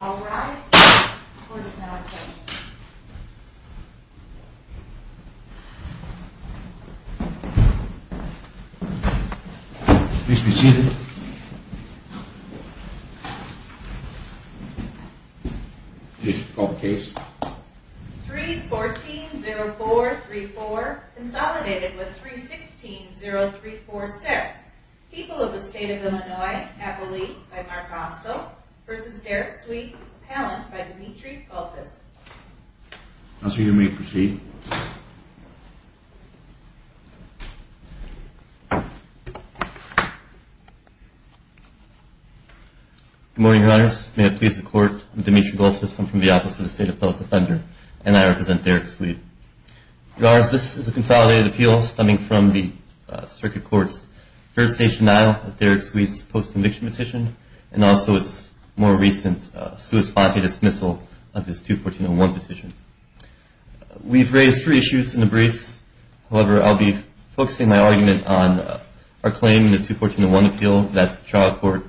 All rise for the plenary session. 3-14-04-34 consolidated with 3-16-03-46 People of the State of Illinois, Appellee by Mark Rostl v. Derek Sweet, Appellant by Dimitri Goltis Good morning, Your Honors. May I please the Court, I'm Dimitri Goltis, I'm from the Office of the State Appellate Defender, and I represent Derek Sweet. Your Honors, this is a consolidated appeal, stemming from the Circuit Court's jurisdiction now of Derek Sweet's post-conviction petition, and also its more recent sui sponte dismissal of his 2-14-01 petition. We've raised three issues in the briefs, however I'll be focusing my argument on our claim in the 2-14-01 appeal, that the trial court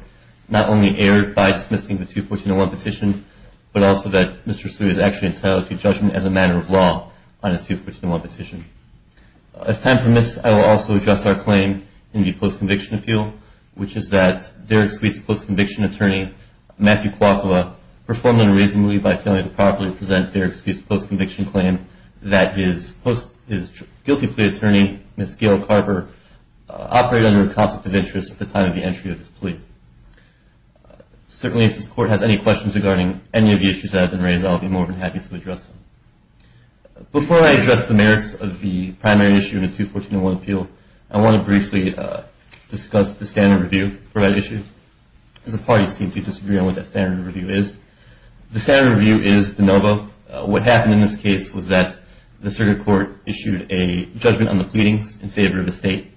not only erred by dismissing the 2-14-01 petition, but also that Mr. Sweet is actually entitled to judgment as a matter of law on his 2-14-01 petition. If time permits, I will also address our claim in the post-conviction appeal, which is that Derek Sweet's post-conviction attorney, Matthew Kwakua, performed unreasonably by failing to properly present Derek Sweet's post-conviction claim, that his guilty plea attorney, Ms. Gail Carver, operated under a concept of interest at the time of the entry of this plea. Certainly, if this court has any questions regarding any of the issues that have been raised, I'll be more than happy to address them. Before I address the merits of the primary issue of the 2-14-01 appeal, I want to briefly discuss the standard review for that issue, because the parties seem to disagree on what that standard review is. The standard review is de novo. What happened in this case was that the Circuit Court issued a judgment on the pleadings in favor of the State,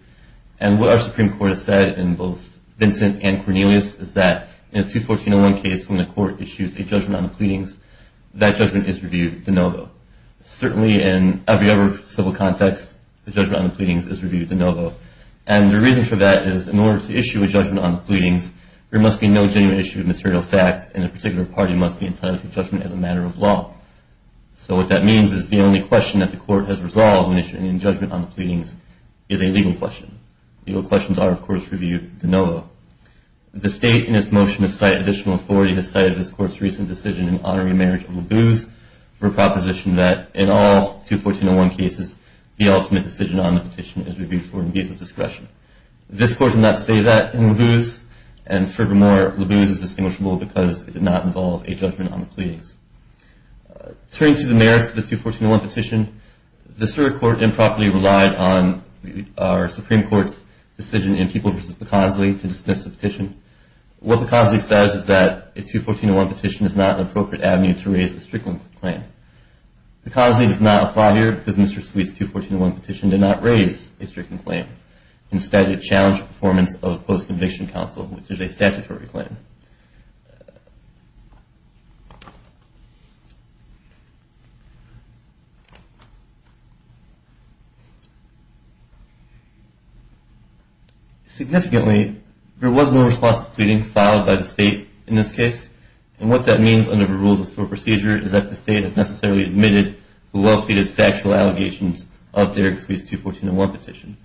and what our Supreme Court has said, in both Vincent and Cornelius, is that in a 2-14-01 case, when a court issues a judgment on the pleadings, that judgment is reviewed de novo. Certainly, in every other civil context, the judgment on the pleadings is reviewed de novo, and the reason for that is, in order to issue a judgment on the pleadings, there must be no genuine issue of material facts, and a particular party must be entitled to judgment as a matter of law. So what that means is the only question that the Court has resolved when issuing a judgment on the pleadings is a legal question. Legal questions are, of course, reviewed de novo. The State, in its motion to cite additional authority, has cited this Court's recent decision in honoring the marriage of Labuse for a proposition that, in all 2-14-01 cases, the ultimate decision on the petition is reviewed for indecisive discretion. This Court did not say that in Labuse, and furthermore, Labuse is distinguishable because it did not involve a judgment on the pleadings. Turning to the merits of the 2-14-01 petition, this Court improperly relied on our Supreme Court's decision in Peoples v. Picazzli to dismiss the petition. What Picazzli says is that a 2-14-01 petition is not an appropriate avenue to raise a stricken claim. Picazzli does not apply here because Mr. Sweet's 2-14-01 petition did not raise a stricken claim. Instead, it challenged the performance of a post-conviction counsel, which is a statutory claim. Significantly, there was no response to the pleadings filed by the State in this case, and what that means under the rules of SOAR procedure is that the State has necessarily admitted to the well-pleaded factual allegations of Derrick Sweet's 2-14-01 petition.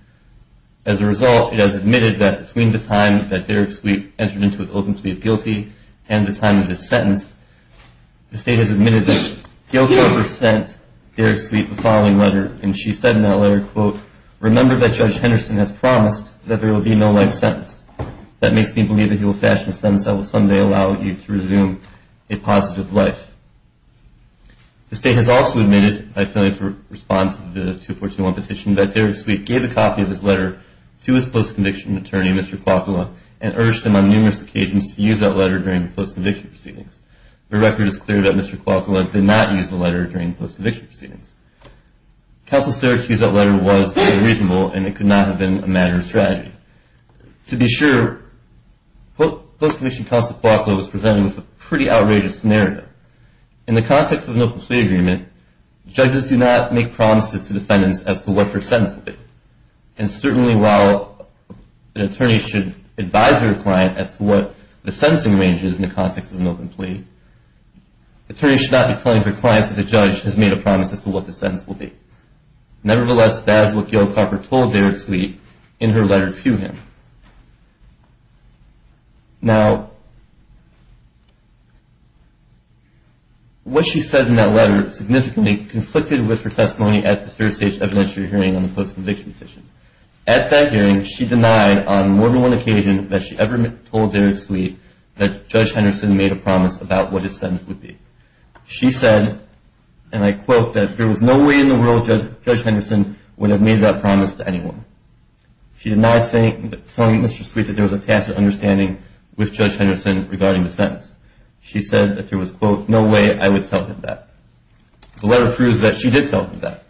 As a result, it has admitted that between the time that Derrick Sweet entered into his open plea of guilty and the time of his sentence, the State has admitted that guilt over sent Derrick Sweet the following letter, and she said in that letter, quote, Remember that Judge Henderson has promised that there will be no life sentence. That makes me believe that he will fashion a sentence that will someday allow you to resume a positive life. The State has also admitted, by failing to respond to the 2-14-01 petition, that Derrick Sweet gave a copy of this letter to his post-conviction attorney, Mr. Kwakula, and urged him on numerous occasions to use that letter during the post-conviction proceedings. The record is clear that Mr. Kwakula did not use the letter during the post-conviction proceedings. Counsel's therapy of that letter was reasonable, and it could not have been a matter of strategy. To be sure, post-conviction counsel Kwakula was presented with a pretty outrageous scenario. In the context of an open plea agreement, judges do not make promises to defendants as to what their sentence will be, and certainly while an attorney should advise their client as to what the sentencing ranges in the context of an open plea, attorneys should not be telling their clients that the judge has made a promise as to what the sentence will be. Nevertheless, that is what Gail Carper told Derrick Sweet in her letter to him. Now, what she said in that letter significantly conflicted with her testimony at the third-stage evidentiary hearing on the post-conviction petition. At that hearing, she denied on more than one occasion that she ever told Derrick Sweet that Judge Henderson made a promise about what his sentence would be. She said, and I quote, that there was no way in the world Judge Henderson would have made that promise to anyone. She denied telling Mr. Sweet that there was a tacit understanding with Judge Henderson regarding the sentence. She said that there was, quote, no way I would tell him that. The letter proves that she did tell him that,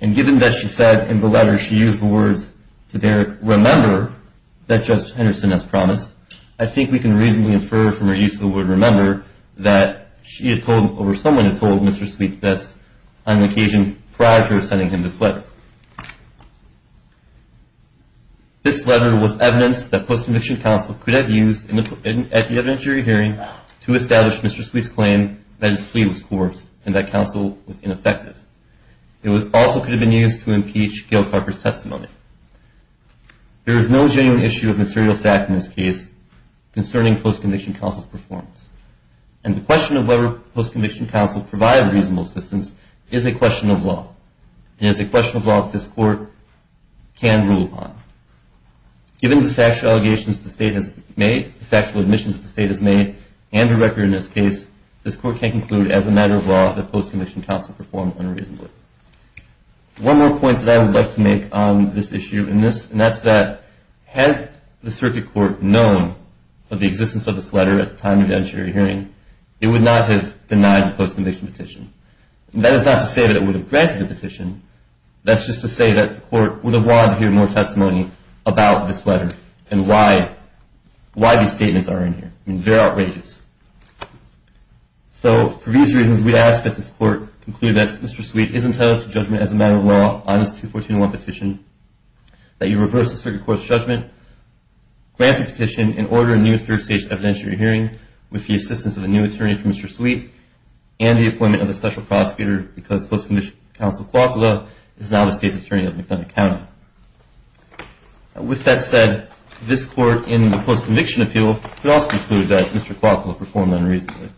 and given that she said in the letter she used the words to Derrick, that Judge Henderson has promised, I think we can reasonably infer from her use of the word remember that she had told, or someone had told Mr. Sweet this on occasion prior to her sending him this letter. This letter was evidence that post-conviction counsel could have used at the evidentiary hearing to establish Mr. Sweet's claim that his plea was coarse and that counsel was ineffective. It also could have been used to impeach Gail Carper's testimony. There is no genuine issue of material fact in this case concerning post-conviction counsel's performance, and the question of whether post-conviction counsel provided reasonable assistance is a question of law. It is a question of law that this Court can rule upon. Given the factual allegations the State has made, the factual admissions the State has made, and the record in this case, this Court can conclude as a matter of law that post-conviction counsel performed unreasonably. One more point that I would like to make on this issue, and that's that had the Circuit Court known of the existence of this letter at the time of the evidentiary hearing, it would not have denied the post-conviction petition. That is not to say that it would have granted the petition. That's just to say that the Court would have wanted to hear more testimony about this letter and why these statements are in here. They're outrageous. So, for these reasons, we ask that this Court conclude that Mr. Sweet is entitled to judgment as a matter of law on this 214-1 petition, that you reverse the Circuit Court's judgment, grant the petition, and order a new third-stage evidentiary hearing with the assistance of a new attorney for Mr. Sweet and the appointment of a special prosecutor because post-conviction counsel Kwakula is now the State's attorney at McDonough County. With that said, this Court in the post-conviction appeal could also conclude that Mr. Kwakula performed unreasonably.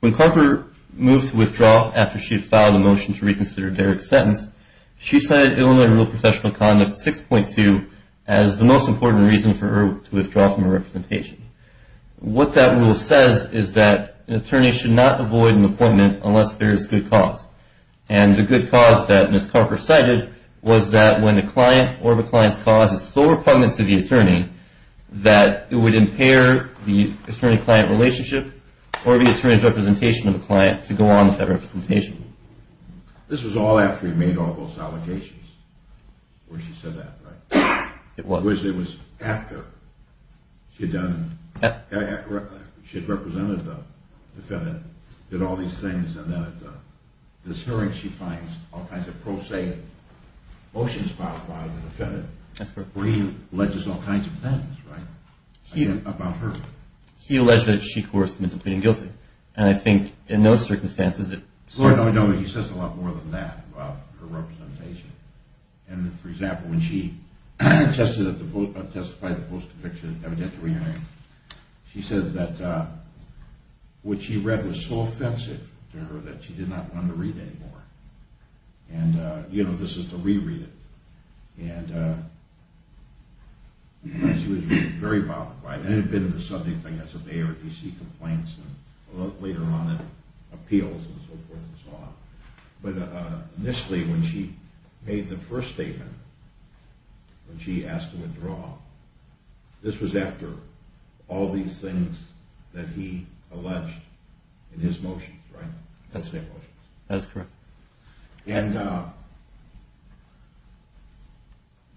When Carper moved to withdraw after she had filed a motion to reconsider Derek's sentence, she cited Illinois Rule of Professional Conduct 6.2 as the most important reason for her to withdraw from her representation. What that rule says is that an attorney should not avoid an appointment unless there is good cause, and the good cause that Ms. Carper cited was that when a client or the client's cause is so repugnant to the attorney that it would impair the attorney-client relationship or the attorney's representation of the client to go on with that representation. This was all after he made all those allegations, or she said that, right? It was. It was after she had done, she had represented the defendant, did all these things, and then at this hearing she finds all kinds of pro se motions filed by the defendant where he alleges all kinds of things, right? About her. He alleged that she coerced him into pleading guilty, and I think in those circumstances it certainly. No, no, he says a lot more than that about her representation. And, for example, when she testified at the post-conviction evidentiary hearing, she said that what she read was so offensive to her that she did not want to read it anymore. And, you know, this is to re-read it. And she was very bothered by it, and it had been in the subject of ARDC complaints, and later on in appeals and so forth and so on. But initially when she made the first statement, when she asked to withdraw, this was after all these things that he alleged in his motions, right? That's correct. And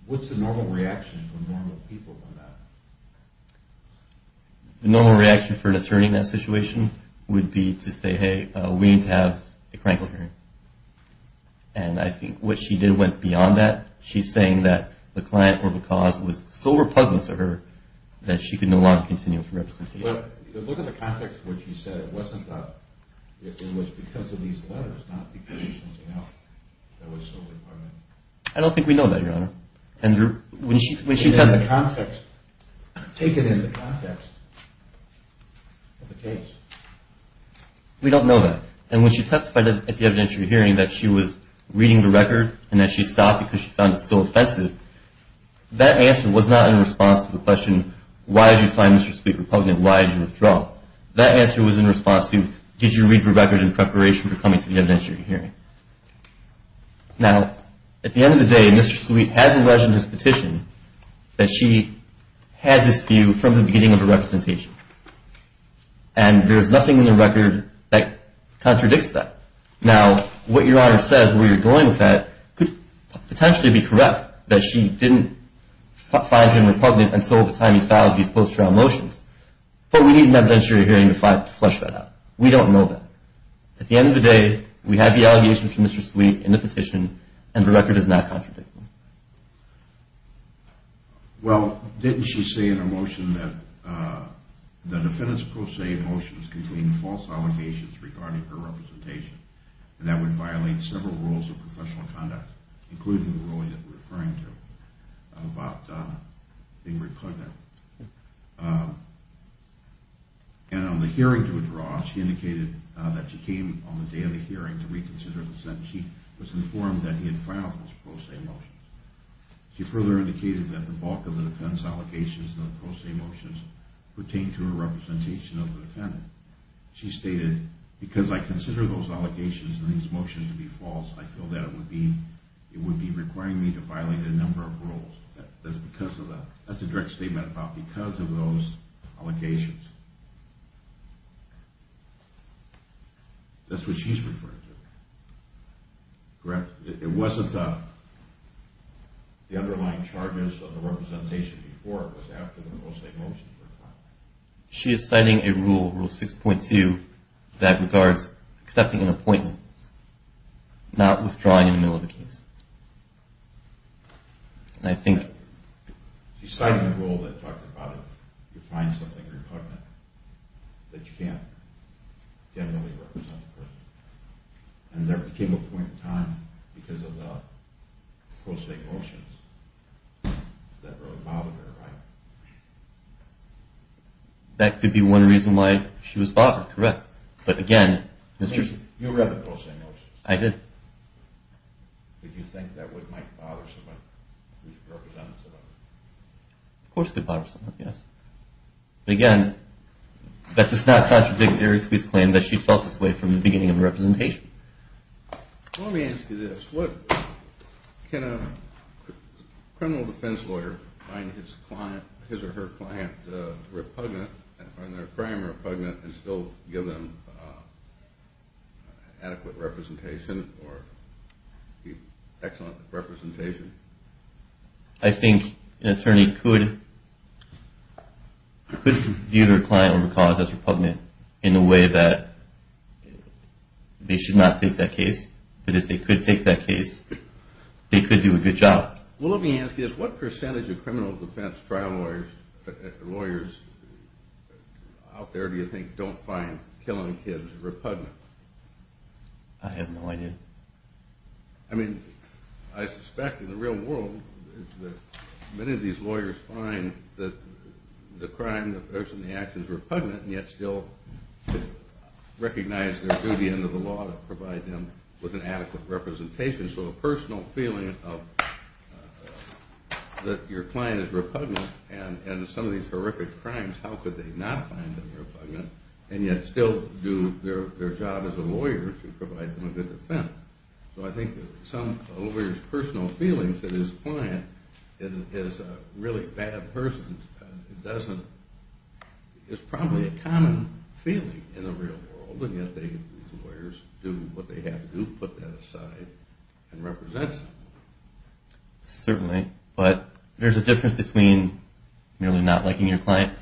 what's the normal reaction when normal people do that? The normal reaction for an attorney in that situation would be to say, hey, we need to have a crime court hearing. And I think what she did went beyond that. She's saying that the client or the cause was so repugnant to her that she could no longer continue with her representation. But look at the context of what she said. It wasn't that it was because of these letters, not because of something else that was so repugnant. I don't think we know that, Your Honor. Take it in the context of the case. We don't know that. And when she testified at the evidentiary hearing that she was reading the record and that she stopped because she found it so offensive, that answer was not in response to the question, why did you find Mr. Sweet repugnant? Why did you withdraw? That answer was in response to, did you read the record in preparation for coming to the evidentiary hearing? Now, at the end of the day, Mr. Sweet has alleged in his petition that she had this view from the beginning of her representation. And there's nothing in the record that contradicts that. Now, what Your Honor says, where you're going with that, could potentially be correct that she didn't find him repugnant until the time he filed these post-trial motions. But we need an evidentiary hearing to flesh that out. We don't know that. At the end of the day, we have the allegation from Mr. Sweet in the petition and the record is not contradicting. Well, didn't she say in her motion that the defendant's post-trial motions contained false allegations regarding her representation and that would violate several rules of professional conduct, including the ruling that we're referring to about being repugnant. And on the hearing to withdraw, she indicated that she came on the day of the hearing to reconsider the sentence. She was informed that he had filed those post-trial motions. She further indicated that the bulk of the defendant's allegations in the post-trial motions pertained to her representation of the defendant. She stated, because I consider those allegations in these motions to be false, I feel that it would be requiring me to violate a number of rules. That's a direct statement about because of those allegations. That's what she's referring to. It wasn't the underlying charges of the representation before. It was after the post-trial motions were filed. She is citing a rule, Rule 6.2, that regards accepting an appointment, not withdrawing in the middle of the case. And I think... She cited a rule that talked about if you find something repugnant, that you can't really represent the person. And there came a point in time, because of the post-trial motions, that really bothered her, right? That could be one reason why she was bothered, correct. But again... You read the post-trial motions. I did. Did you think that might bother someone who's a representative? Of course it could bother someone, yes. But again, that's not contradictory to this claim that she felt this way from the beginning of the representation. Let me ask you this. Can a criminal defense lawyer find his or her client repugnant, and find their crime repugnant, and still give them adequate representation or excellent representation? I think an attorney could view their client or cause as repugnant in a way that they should not take that case. But if they could take that case, they could do a good job. Well, let me ask you this. What percentage of criminal defense lawyers out there do you think don't find killing kids repugnant? I have no idea. I mean, I suspect in the real world that many of these lawyers find that the crime, the person, the action is repugnant, and yet still recognize their duty under the law to provide them with an adequate representation. So the personal feeling that your client is repugnant and some of these horrific crimes, how could they not find them repugnant, and yet still do their job as a lawyer to provide them a good defense? So I think some lawyers' personal feelings that his client is a really bad person is probably a common feeling in the real world, and yet these lawyers do what they have to do, put that aside, and represent them. Certainly, but there's a difference between merely not liking your client,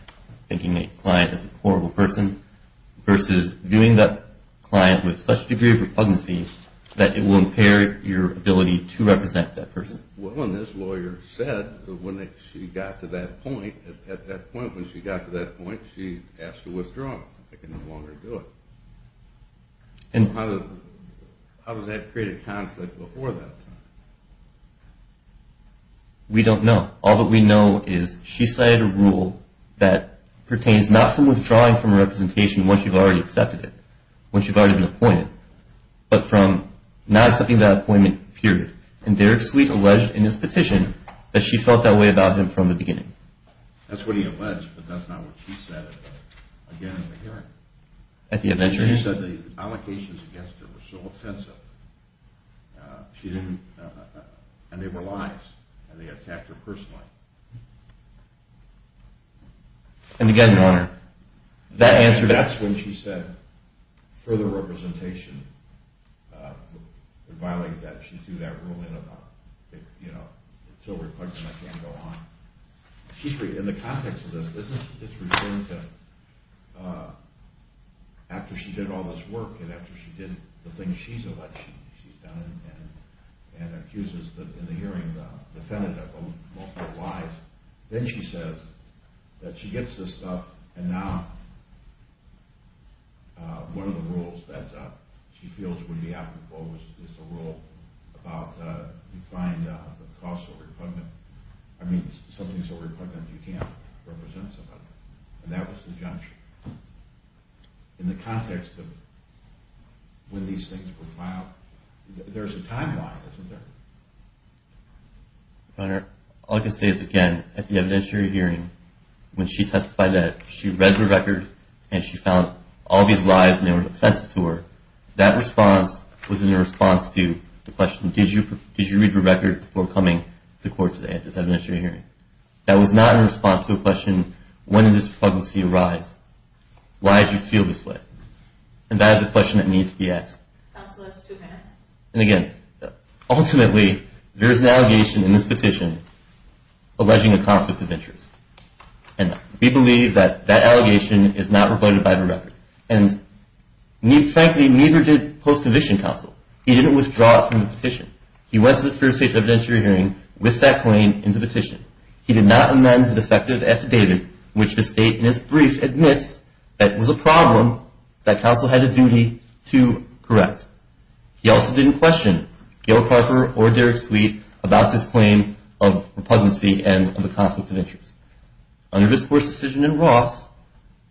thinking the client is a horrible person, versus viewing that client with such a degree of repugnancy that it will impair your ability to represent that person. Well, and this lawyer said that when she got to that point, at that point when she got to that point, she asked to withdraw. She said, well, I can no longer do it. How does that create a conflict before that time? We don't know. All that we know is she cited a rule that pertains not from withdrawing from a representation once you've already accepted it, once you've already been appointed, but from not accepting that appointment, period. And Derek Sweet alleged in his petition that she felt that way about him from the beginning. That's what he alleged, but that's not what she said at the hearing. At the event hearing? She said the allegations against her were so offensive, and they were lies, and they attacked her personally. And again, Your Honor, that answer that? That's when she said, further representation, it violates that she threw that rule in about, you know, it's so reflective I can't go on. In the context of this, doesn't she just return to after she did all this work and after she did the things she's alleged she's done and accuses in the hearing the defendant of multiple lies, then she says that she gets this stuff, and now one of the rules that she feels would be applicable is the rule about you find something so repugnant you can't represent somebody. And that was the junction. In the context of when these things were filed, there's a timeline, isn't there? Your Honor, all I can say is, again, at the evidentiary hearing, when she testified that she read the record and she found all these lies and they were offensive to her, that response was in response to the question, did you read the record before coming to court today at this evidentiary hearing? That was not in response to a question, when did this repugnancy arise? Why did you feel this way? And that is a question that needs to be asked. Counsel, that's two minutes. And, again, ultimately, there is an allegation in this petition alleging a conflict of interest. And we believe that that allegation is not rebutted by the record. And, frankly, neither did post-conviction counsel. He didn't withdraw it from the petition. He went to the first state evidentiary hearing with that claim in the petition. He did not amend the defective affidavit, which the state in its brief admits that it was a problem that counsel had a duty to correct. He also didn't question Gail Carper or Derek Sweet about this claim of repugnancy and of a conflict of interest. Under this Court's decision in Ross,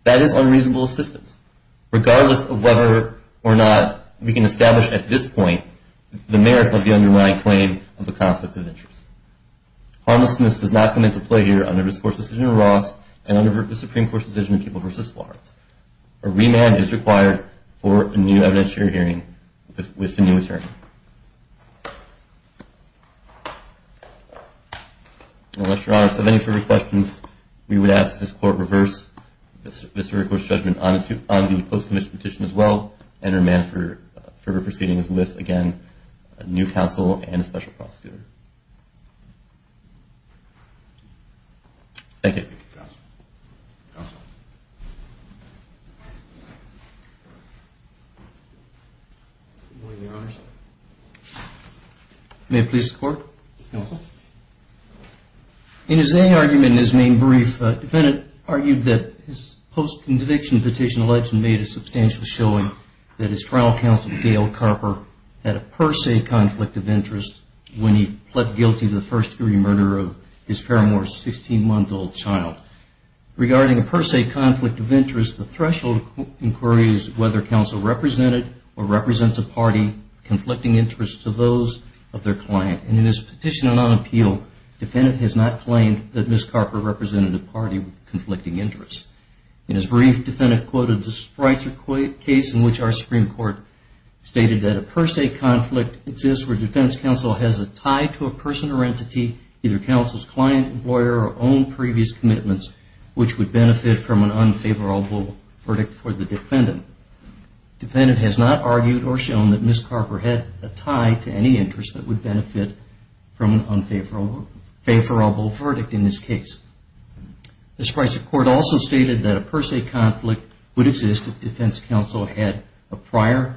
that is unreasonable assistance, regardless of whether or not we can establish at this point the merits of the underlying claim of a conflict of interest. Harmlessness does not come into play here under this Court's decision in Ross A remand is required for a new evidentiary hearing with the new attorney. Unless Your Honor has any further questions, we would ask that this Court reverse this very Court's judgment on the post-conviction petition as well and remand for further proceedings with, again, a new counsel and a special prosecutor. Thank you. Thank you, counsel. Counsel. Good morning, Your Honor. May it please the Court. Counsel. In his A argument in his main brief, the defendant argued that his post-conviction petition alleged made a substantial showing that his trial counsel, Gail Carper, had a per se conflict of interest when he pled guilty to the first degree murder of his paramour's 16-month-old child. Regarding a per se conflict of interest, the threshold inquiry is whether counsel represented or represents a party conflicting interests to those of their client. In his petition on appeal, the defendant has not claimed that Ms. Carper represented a party with conflicting interests. In his brief, the defendant quoted the case in which our Supreme Court stated that a per se conflict exists where defense counsel has a tie to a person or entity, either counsel's client, employer, or own previous commitments, which would benefit from an unfavorable verdict for the defendant. The defendant has not argued or shown that Ms. Carper had a tie to any interest that would benefit from an unfavorable verdict in this case. The Supreme Court also stated that a per se conflict would exist if defense counsel had a prior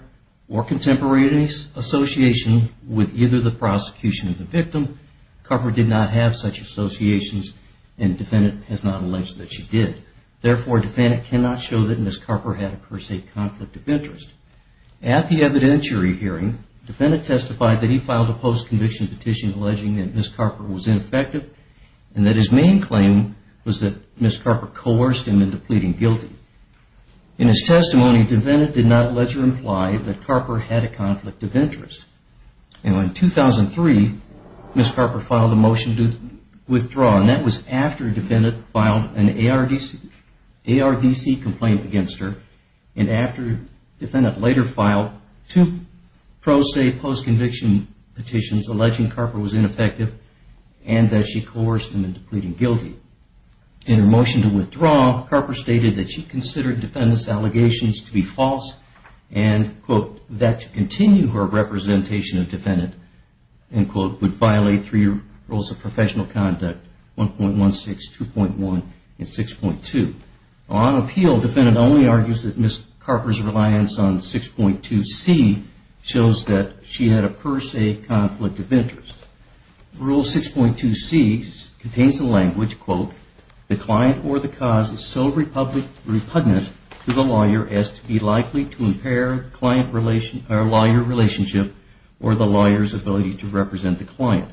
or contemporary association with either the prosecution of the victim. Ms. Carper did not have such associations and the defendant has not alleged that she did. Therefore, the defendant cannot show that Ms. Carper had a per se conflict of interest. At the evidentiary hearing, the defendant testified that he filed a post-conviction petition alleging that Ms. Carper was ineffective and that his main claim was that Ms. Carper coerced him into pleading guilty. In his testimony, the defendant did not allege or imply that Carper had a conflict of interest. In 2003, Ms. Carper filed a motion to withdraw. That was after the defendant filed an ARDC complaint against her. After the defendant later filed two pro se post-conviction petitions alleging Carper was ineffective and that she coerced him into pleading guilty. In her motion to withdraw, Carper stated that she considered the defendant's allegations to be false and that to continue her representation of the defendant would violate three rules of professional conduct, 1.16, 2.1, and 6.2. On appeal, the defendant only argues that Ms. Carper's reliance on 6.2c shows that she had a per se conflict of interest. Rule 6.2c contains the language, the client or the cause is so repugnant to the lawyer as to be likely to impair the client-lawyer relationship or the lawyer's ability to represent the client.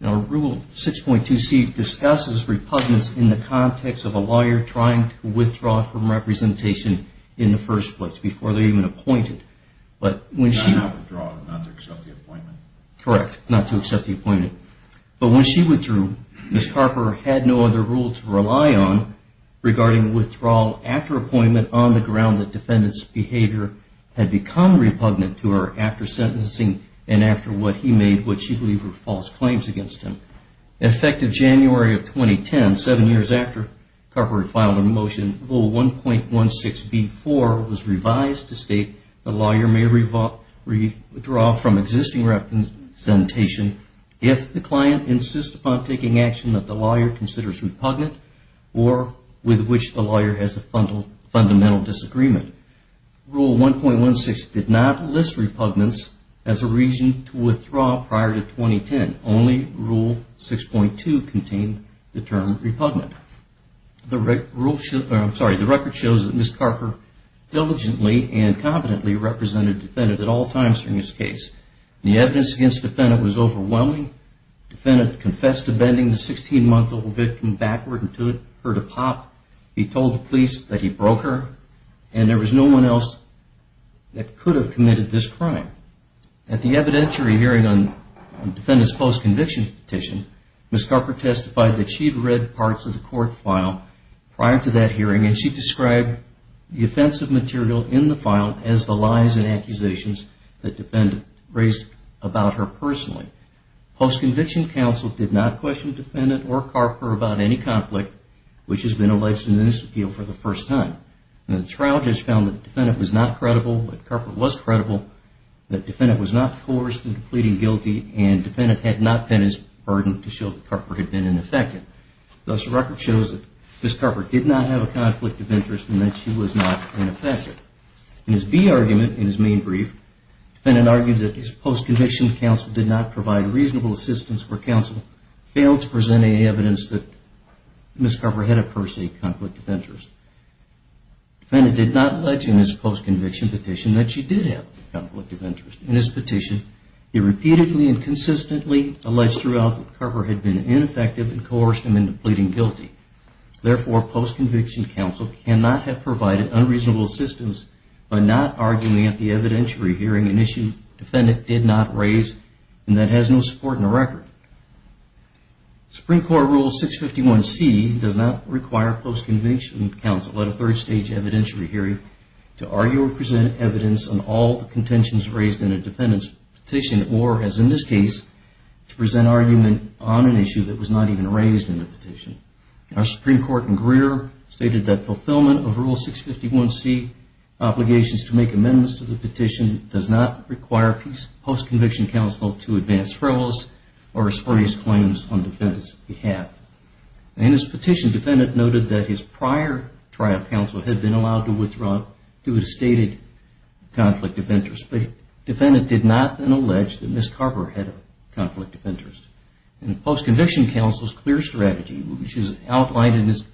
Rule 6.2c discusses repugnance in the context of a lawyer trying to withdraw from representation in the first place before they're even appointed. Not to withdraw, not to accept the appointment. Correct, not to accept the appointment. But when she withdrew, Ms. Carper had no other rule to rely on regarding withdrawal after appointment on the ground that the defendant's behavior had become repugnant to her after sentencing and after what he made which she believed were false claims against him. Effective January of 2010, seven years after Carper filed her motion, Rule 1.16b-4 was revised to state the lawyer may withdraw from existing representation if the client insists upon taking action that the lawyer considers repugnant or with which the lawyer has a fundamental disagreement. Rule 1.16 did not list repugnance as a reason to withdraw prior to 2010. Only Rule 6.2 contained the term repugnant. The record shows that Ms. Carper diligently and competently represented the defendant at all times during this case. The evidence against the defendant was overwhelming. The defendant confessed to bending the 16-month-old victim backward until it heard a pop. He told the police that he broke her and there was no one else that could have committed this crime. At the evidentiary hearing on the defendant's post-conviction petition, Ms. Carper testified that she'd read parts of the court file prior to that hearing and she described the offensive material in the file as the lies and accusations that the defendant raised about her personally. Post-conviction counsel did not question the defendant or Carper about any conflict, which has been alleged in this appeal for the first time. The trial judge found that the defendant was not credible, that Carper was credible, that the defendant was not coerced into pleading guilty, and the defendant had not penned his burden to show that Carper had been ineffective. Thus, the record shows that Ms. Carper did not have a conflict of interest and that she was not ineffective. In his B argument, in his main brief, the defendant argued that his post-conviction counsel did not provide reasonable assistance or counsel failed to present any evidence that Ms. Carper had a per se conflict of interest. The defendant did not allege in his post-conviction petition that she did have a conflict of interest. In his petition, he repeatedly and consistently alleged throughout that Carper had been ineffective and coerced him into pleading guilty. Therefore, post-conviction counsel cannot have provided unreasonable assistance by not arguing at the evidentiary hearing an issue the defendant did not raise and that has no support in the record. Supreme Court Rule 651C does not require post-conviction counsel at a third stage evidentiary hearing to argue or present evidence on all the contentions raised in a defendant's petition or as in this case, to present argument on an issue that was not even raised in the petition. Our Supreme Court in Greer stated that fulfillment of Rule 651C obligations to make amendments to the petition does not require post-conviction counsel to advance frivolous or spurious claims on the defendant's behalf. In his petition, the defendant noted that his prior trial counsel had been allowed to withdraw due to stated conflict of interest, but the defendant did not then allege that Ms. Carper had a conflict of interest. In the post-conviction counsel's clear strategy, which is outlined in his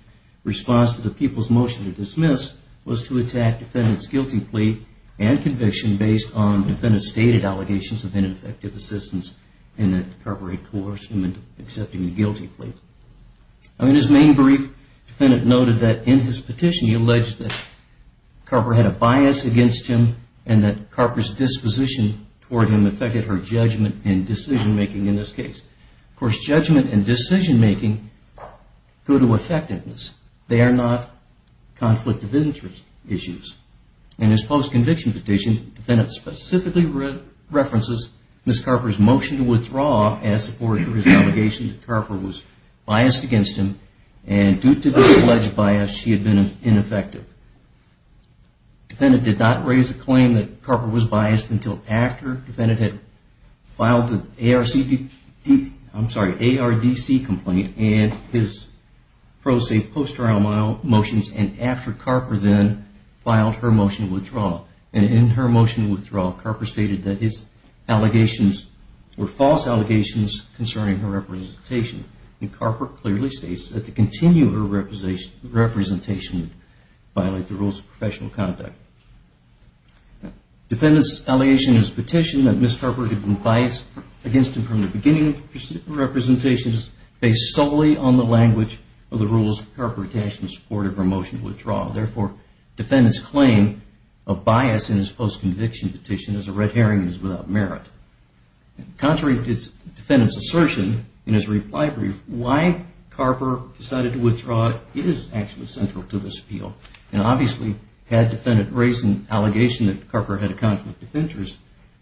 response to the people's motion to dismiss, was to attack the defendant's guilty plea and conviction based on the defendant's stated allegations of ineffective assistance and that Carper had coerced him into accepting the guilty plea. In his main brief, the defendant noted that in his petition he alleged that Carper had a bias against him and that Carper's disposition toward him affected her judgment and decision-making in this case. Of course, judgment and decision-making go to effectiveness. They are not conflict of interest issues. In his post-conviction petition, the defendant specifically references Ms. Carper's motion to withdraw as supported by his allegation that Carper was biased against him and due to this alleged bias, she had been ineffective. The defendant did not raise a claim that Carper was biased until after the defendant had filed the ARDC complaint and his pro se post-trial motions and after Carper then filed her motion to withdraw. In her motion to withdraw, Carper stated that his allegations were false allegations concerning her representation. The defendant's allegation in his petition that Ms. Carper had been biased against him from the beginning of her presentation is based solely on the language of the rules Carper attached in support of her motion to withdraw. Therefore, the defendant's claim of bias in his post-conviction petition is a red herring and is without merit. Contrary to the defendant's assertion, in his reply to Ms. Carper's petition, why Carper decided to withdraw is actually central to this appeal. Obviously, had the defendant raised an allegation that Carper had a conflict of interest,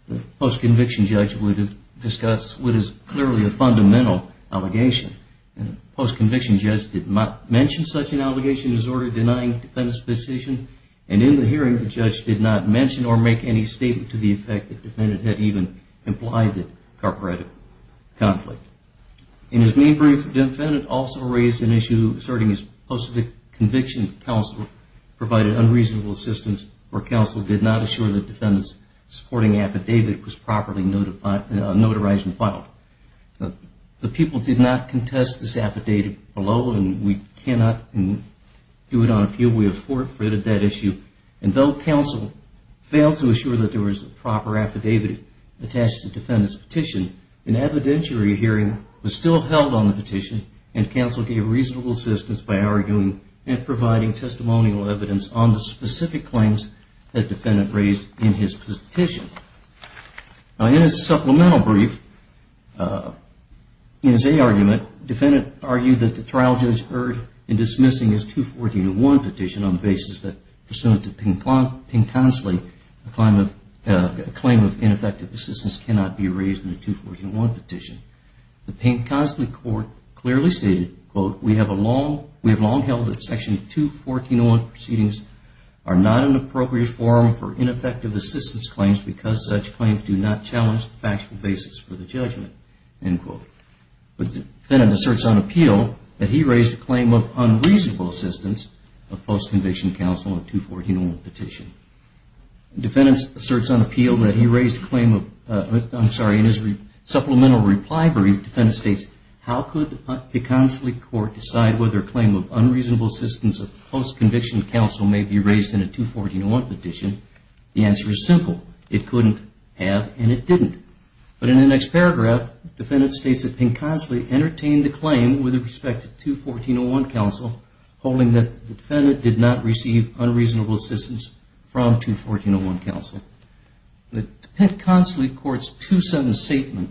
the post-conviction judge would have discussed what is clearly a fundamental allegation. The post-conviction judge did not mention such an allegation as ordered denying the defendant's position and in the hearing, the judge did not mention or make any statement to the effect that the defendant had even implied that Carper had a conflict. In his main brief, the defendant also raised an issue asserting his post-conviction counsel provided unreasonable assistance or counsel did not assure the defendant's supporting affidavit was properly notarized and filed. The people did not contest this affidavit below and we cannot do it on appeal. We have forfeited that issue and though counsel failed to assure that there was a proper affidavit attached to the defendant's petition, an evidentiary hearing was still held on the petition and counsel gave reasonable assistance by arguing and providing testimonial evidence on the specific claims that the defendant raised in his petition. In his supplemental brief, in his A argument, the defendant argued that the trial judge erred in dismissing his 214-1 petition on the basis that pursuant to Pink-Consley, a claim of ineffective assistance cannot be raised in the 214-1 petition. The Pink-Consley court clearly stated, quote, we have long held that section 214-1 proceedings are not an appropriate forum for ineffective assistance claims because such claims do not challenge the factual basis for the judgment, end quote. The defendant asserts on appeal that he raised a claim of unreasonable assistance of post-conviction counsel in a 214-1 petition. The defendant asserts on appeal that he raised a claim of, I'm sorry, in his supplemental reply brief, the defendant states, how could the Pink-Consley court decide whether a claim of unreasonable assistance of post-conviction counsel may be raised in a 214-1 petition? The answer is simple. It couldn't have and it didn't. But in the next paragraph, the defendant states that Pink-Consley entertained a claim with respect to 214-1 counsel, holding that the defendant did not receive unreasonable assistance from 214-1 counsel. The Pink-Consley court's two sentence statement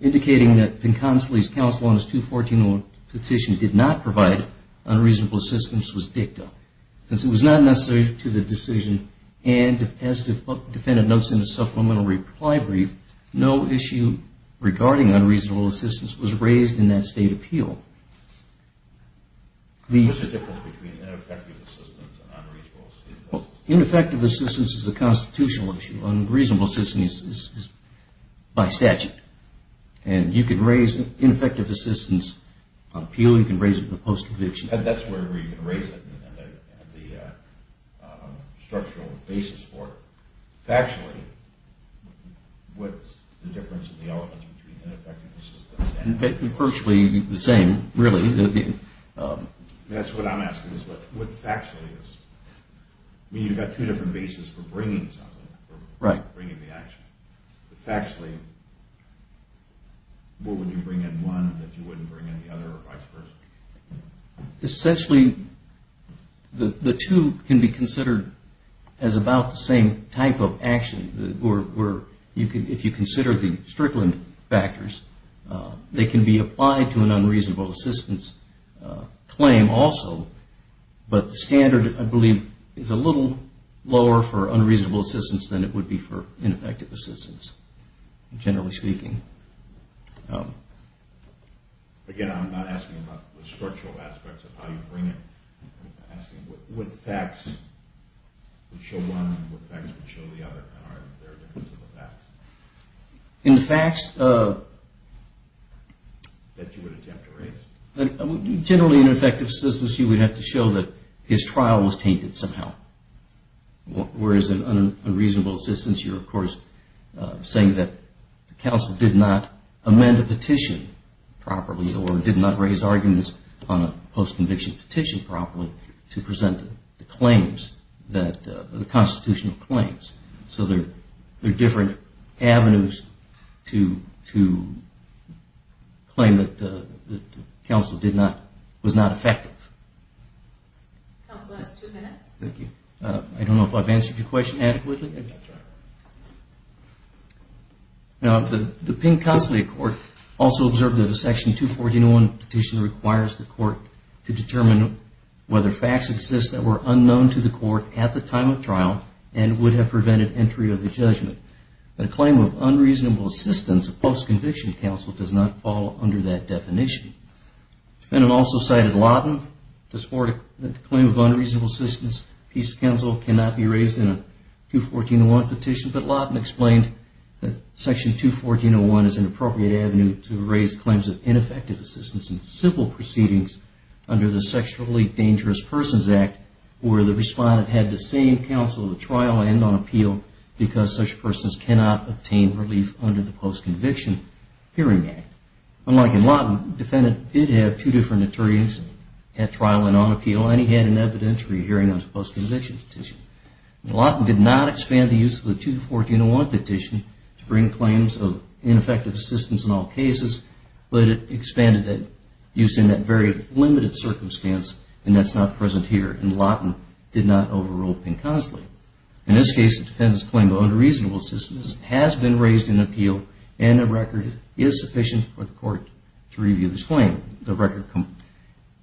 indicating that Pink-Consley's counsel on his 214-1 petition did not provide unreasonable assistance was dicta. Since it was not necessary to the decision and as the defendant notes in the supplemental reply brief, no issue regarding unreasonable assistance was raised in that state appeal. What's the difference between ineffective assistance and unreasonable assistance? Ineffective assistance is a constitutional issue. Unreasonable assistance is by statute. And you can raise ineffective assistance on appeal, you can raise it on post-conviction. That's where you can raise it and the structural basis for it. Factually, what's the difference in the elements between ineffective assistance and... Virtually the same, really. That's what I'm asking is what factually is. You've got two different bases for bringing the action. Factually, what would you bring in one that you wouldn't bring in the other or vice versa? Essentially, the two can be considered as about the same type of action. If you consider the Strickland factors, they can be applied to an unreasonable assistance claim also. But the standard, I believe, is a little lower for unreasonable assistance than it would be for ineffective assistance, generally speaking. Again, I'm not asking about the structural aspects of how you bring it. I'm asking what facts would show one and what facts would show the other. In the facts that you would attempt to raise? Generally, in an effective assistance, you would have to show that his trial was tainted somehow. Whereas in an unreasonable assistance, you're of course saying that the counsel did not amend a petition properly or did not raise arguments on a post-conviction petition properly to present the constitutional claims. There are different avenues to claim that the counsel was not effective. Counsel has two minutes. Thank you. I don't know if I've answered your question adequately. The Pink-Consolidated Court also stated that facts exist that were unknown to the court at the time of trial and would have prevented entry of the judgment. A claim of unreasonable assistance of post-conviction counsel does not fall under that definition. The defendant also cited Lawton to support a claim of unreasonable assistance. Peace counsel cannot be raised in a 214-01 petition, but Lawton explained that Section 214-01 is an appropriate avenue to raise claims of ineffective assistance in civil proceedings under the Sexually Dangerous Persons Act where the respondent had the same counsel at trial and on appeal because such persons cannot obtain relief under the Post-Conviction Hearing Act. Unlike in Lawton, the defendant did have two different attorneys at trial and on appeal and he had an evidentiary hearing on his post-conviction petition. Lawton did not expand the use of the 214-01 petition to bring claims of ineffective assistance in all cases, but it expanded that use in that very limited circumstance and that's not present here. Lawton did not overrule Pink-Consolidated. In this case, the defendant's claim of unreasonable assistance has been raised in appeal and a record is sufficient for the court to review this claim. The record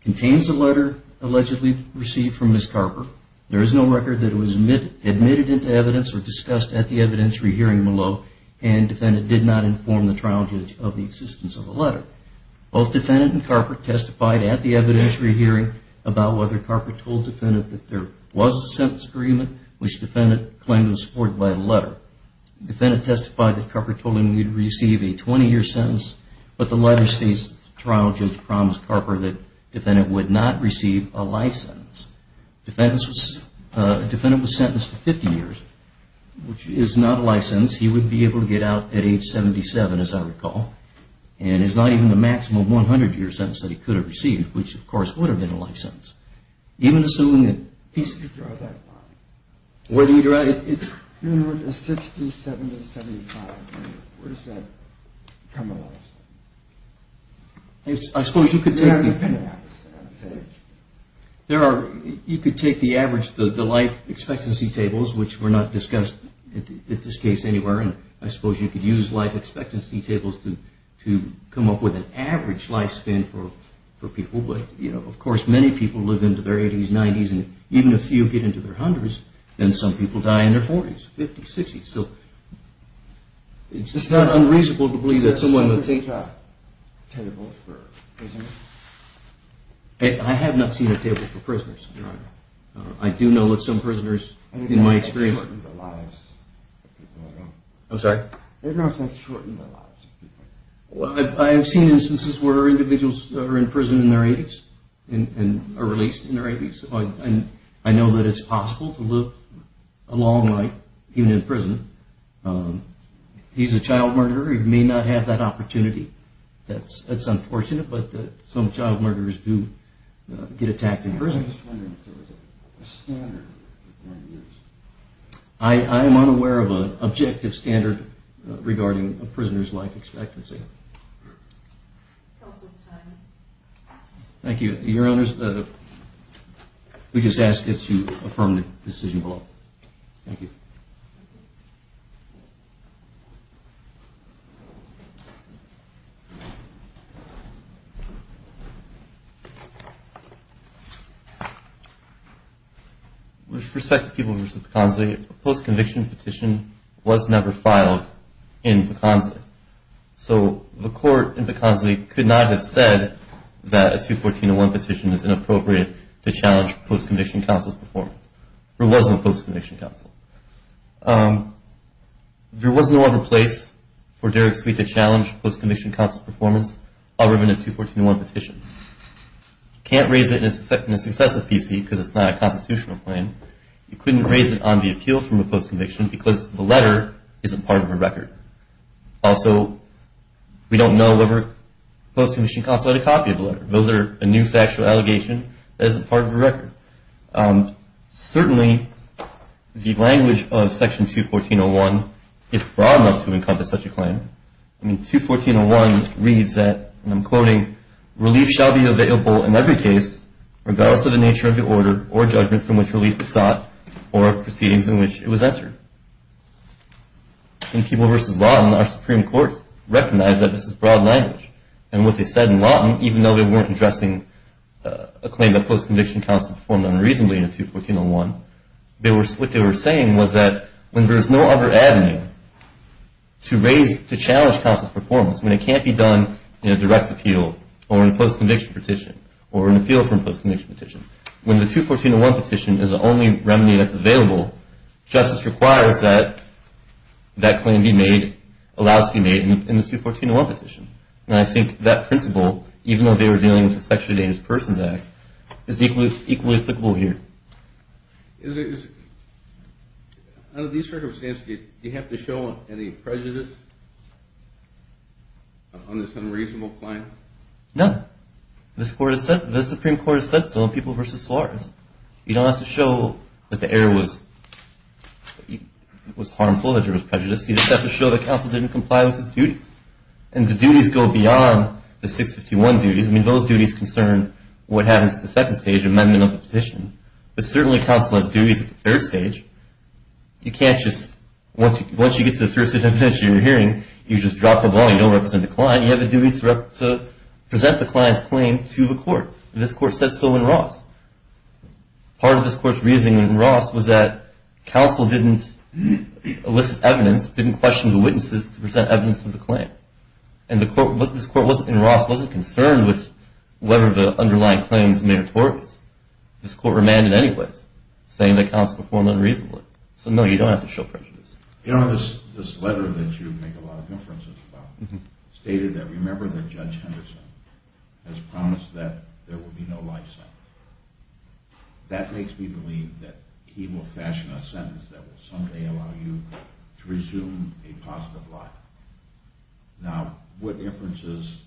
contains the letter allegedly received from Ms. Carper. There is no record that it was admitted into evidence or discussed at the evidentiary hearing below and the defendant did not inform the trial judge of the existence of the letter. Both the defendant and Carper testified at the evidentiary hearing about whether Carper told the defendant that there was a sentence agreement which the defendant claimed was supported by a letter. The defendant testified that Carper told him he would receive a 20-year sentence, but the letter states that the trial judge promised Carper that the defendant would not receive a life sentence. The defendant was sentenced to 50 years, which is not a life sentence. He would be able to get out at age 77, as I recall, and it's not even the maximum 100-year sentence that he could have received, which of course would have been a life sentence. Even assuming that he's... I suppose you could take... You could take the life expectancy tables, which were not discussed in this case anywhere, and I suppose you could use life expectancy tables to come up with an average life span for people, but of course many people live into their 80s, 90s, and even a few get into their 100s, and some people die in their 40s, 50s, 60s. It's just not unreasonable to believe that someone would... I have not seen a table for prisoners, Your Honor. I do know that some prisoners, in my experience... I'm sorry? I've seen instances where individuals are in prison in their 80s and are released in their 80s, and I know that it's possible to live a long life even in prison. He's a child murderer. He may not have that opportunity. That's unfortunate, but some child murderers do get attacked in prison. I'm just wondering if there was a standard... I am unaware of an objective standard regarding a prisoner's life expectancy. Counsel's time. We just ask that you affirm the decision below. With respect to Peoples v. Pecansley, a post-conviction petition was never filed in Pecansley. So the court in Pecansley could not have said that a 214-1 petition is inappropriate to challenge post-conviction counsel's performance. There was no other place for Derek Sweet to challenge post-conviction counsel's performance other than a 214-1 petition. You can't raise it in a successive PC because it's not a constitutional claim. You couldn't raise it on the appeal from a post-conviction because the letter isn't part of the record. Also, we don't know whether the post-conviction counsel had a copy of the letter. Those are a new factual allegation that isn't part of the record. Certainly, the language of Section 214-1 is broad enough to encompass such a claim. 214-1 reads that, and I'm quoting, In Peoples v. Lawton, our Supreme Court recognized that this is broad language. And what they said in Lawton, even though they weren't addressing a claim that post-conviction counsel performed unreasonably in a 214-1, what they were saying was that when there is no other avenue to challenge counsel's performance, when it can't be done in a direct appeal or in a post-conviction petition or an appeal from a post-conviction petition, when the 214-1 petition is the only remedy that's available, justice requires that that claim be made, allows to be made in the 214-1 petition. And I think that principle, even though they were dealing with the Sexually Endangered Persons Act, is equally applicable here. Under these circumstances, do you have to show any prejudice on this unreasonable claim? No. The Supreme Court has said so in Peoples v. Suarez. You don't have to show that the error was harmful, that there was prejudice. You just have to show that counsel didn't comply with his duties. And the duties go beyond the 651 duties. I mean, those duties concern what happens at the second stage, amendment of the petition. But certainly, counsel has duties at the third stage. You can't just, once you get to the third stage of your hearing, you just drop the ball, you don't represent the client, you have to present the client's claim to the court. And this court said so in Ross. Part of this court's reasoning in Ross was that counsel didn't elicit evidence, didn't question the witnesses to present evidence of the claim. And this court in Ross wasn't concerned with whether the underlying claim was meritorious. This court remanded anyways, saying that counsel performed unreasonably. So no, you don't have to show prejudice. You know, this letter that you make a lot of inferences about, stated that, remember that Judge Henderson has promised that there will be no life sentence. That makes me believe that he will fashion a sentence that will someday allow you to resume a positive life. Now, what inferences,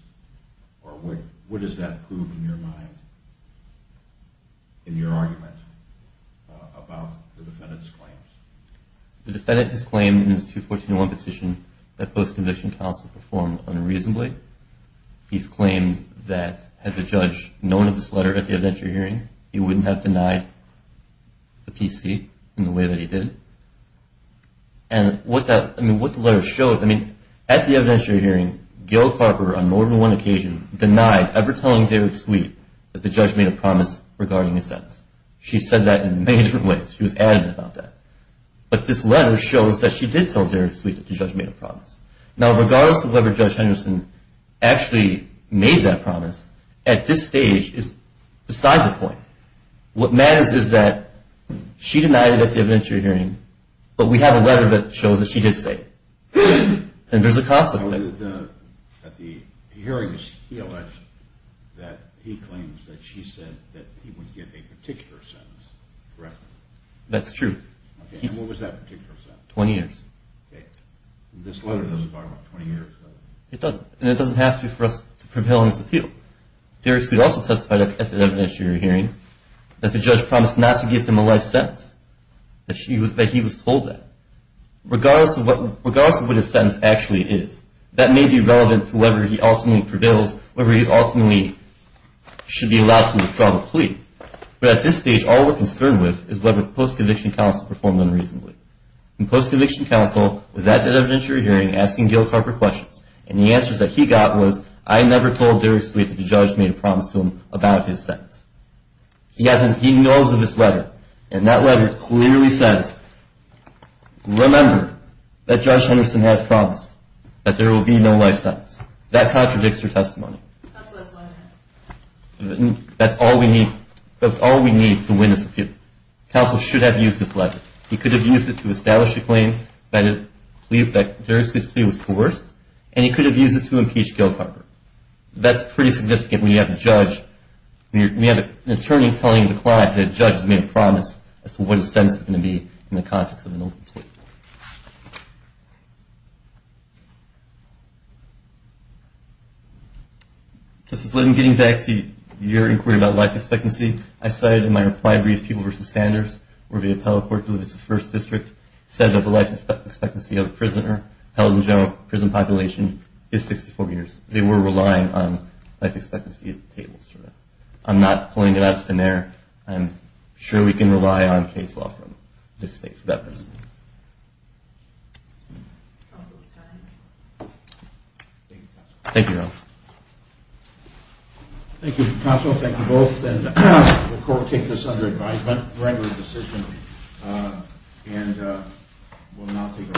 or what does that prove in your mind, in your argument about the defendant's claims? The defendant has claimed in his 214.1 petition that post-conviction counsel performed unreasonably. He's claimed that had the judge known of this letter at the evidentiary hearing, he wouldn't have denied the PC in the way that he did. And what the letter shows, I mean, at the evidentiary hearing, Gail Carper on more than one occasion denied ever telling Derek Sweet that the judge made a promise regarding his sentence. She said that in many different ways. She was adamant about that. But this letter shows that she did tell Derek Sweet that the judge made a promise. Now, regardless of whether Judge Henderson actually made that promise, at this stage is beside the point. What matters is that she denied it at the evidentiary hearing, but we have a letter that shows that she did say it. And there's a consequence. Now, at the hearings, he alleged that he claims that she said that he wouldn't give a particular sentence, correct? That's true. And what was that particular sentence? 20 years. This letter doesn't talk about 20 years? It doesn't. And it doesn't have to for us to propel his appeal. Derek Sweet also testified at the evidentiary hearing that the judge promised not to give the malice sentence, that he was told that, regardless of what his sentence actually is. That may be relevant to whether he ultimately prevails, whether he ultimately should be allowed to withdraw the plea. But at this stage, all we're concerned with is whether the post-conviction counsel performed unreasonably. The post-conviction counsel was at the evidentiary hearing asking Gail Carper questions, and the answers that he got was, I never told Derek Sweet that the judge made a promise to him about his sentence. He knows of this letter, and that letter clearly says, remember that Judge Henderson has promised that there will be no life sentence. That contradicts your testimony. That's all we need to win this appeal. Counsel should have used this letter. He could have used it to establish a claim that Derek Sweet's plea was coerced, and he could have used it to impeach Gail Carper. That's pretty significant when you have an attorney telling the client that a judge has made a promise as to what his sentence is going to be in the context of an open plea. Justice Litton, getting back to your inquiry about life expectancy, I cited in my reply brief, People v. Sanders, where the appellate court delivers the first district sentence of the life expectancy of a prisoner held in general prison population is 64 years. They were relying on life expectancy tables for that. I'm not pulling it out of thin air. I'm sure we can rely on case law from this state for that principle. Thank you, counsel. Thank you both. The court takes this under advisement. We'll now take a short recess.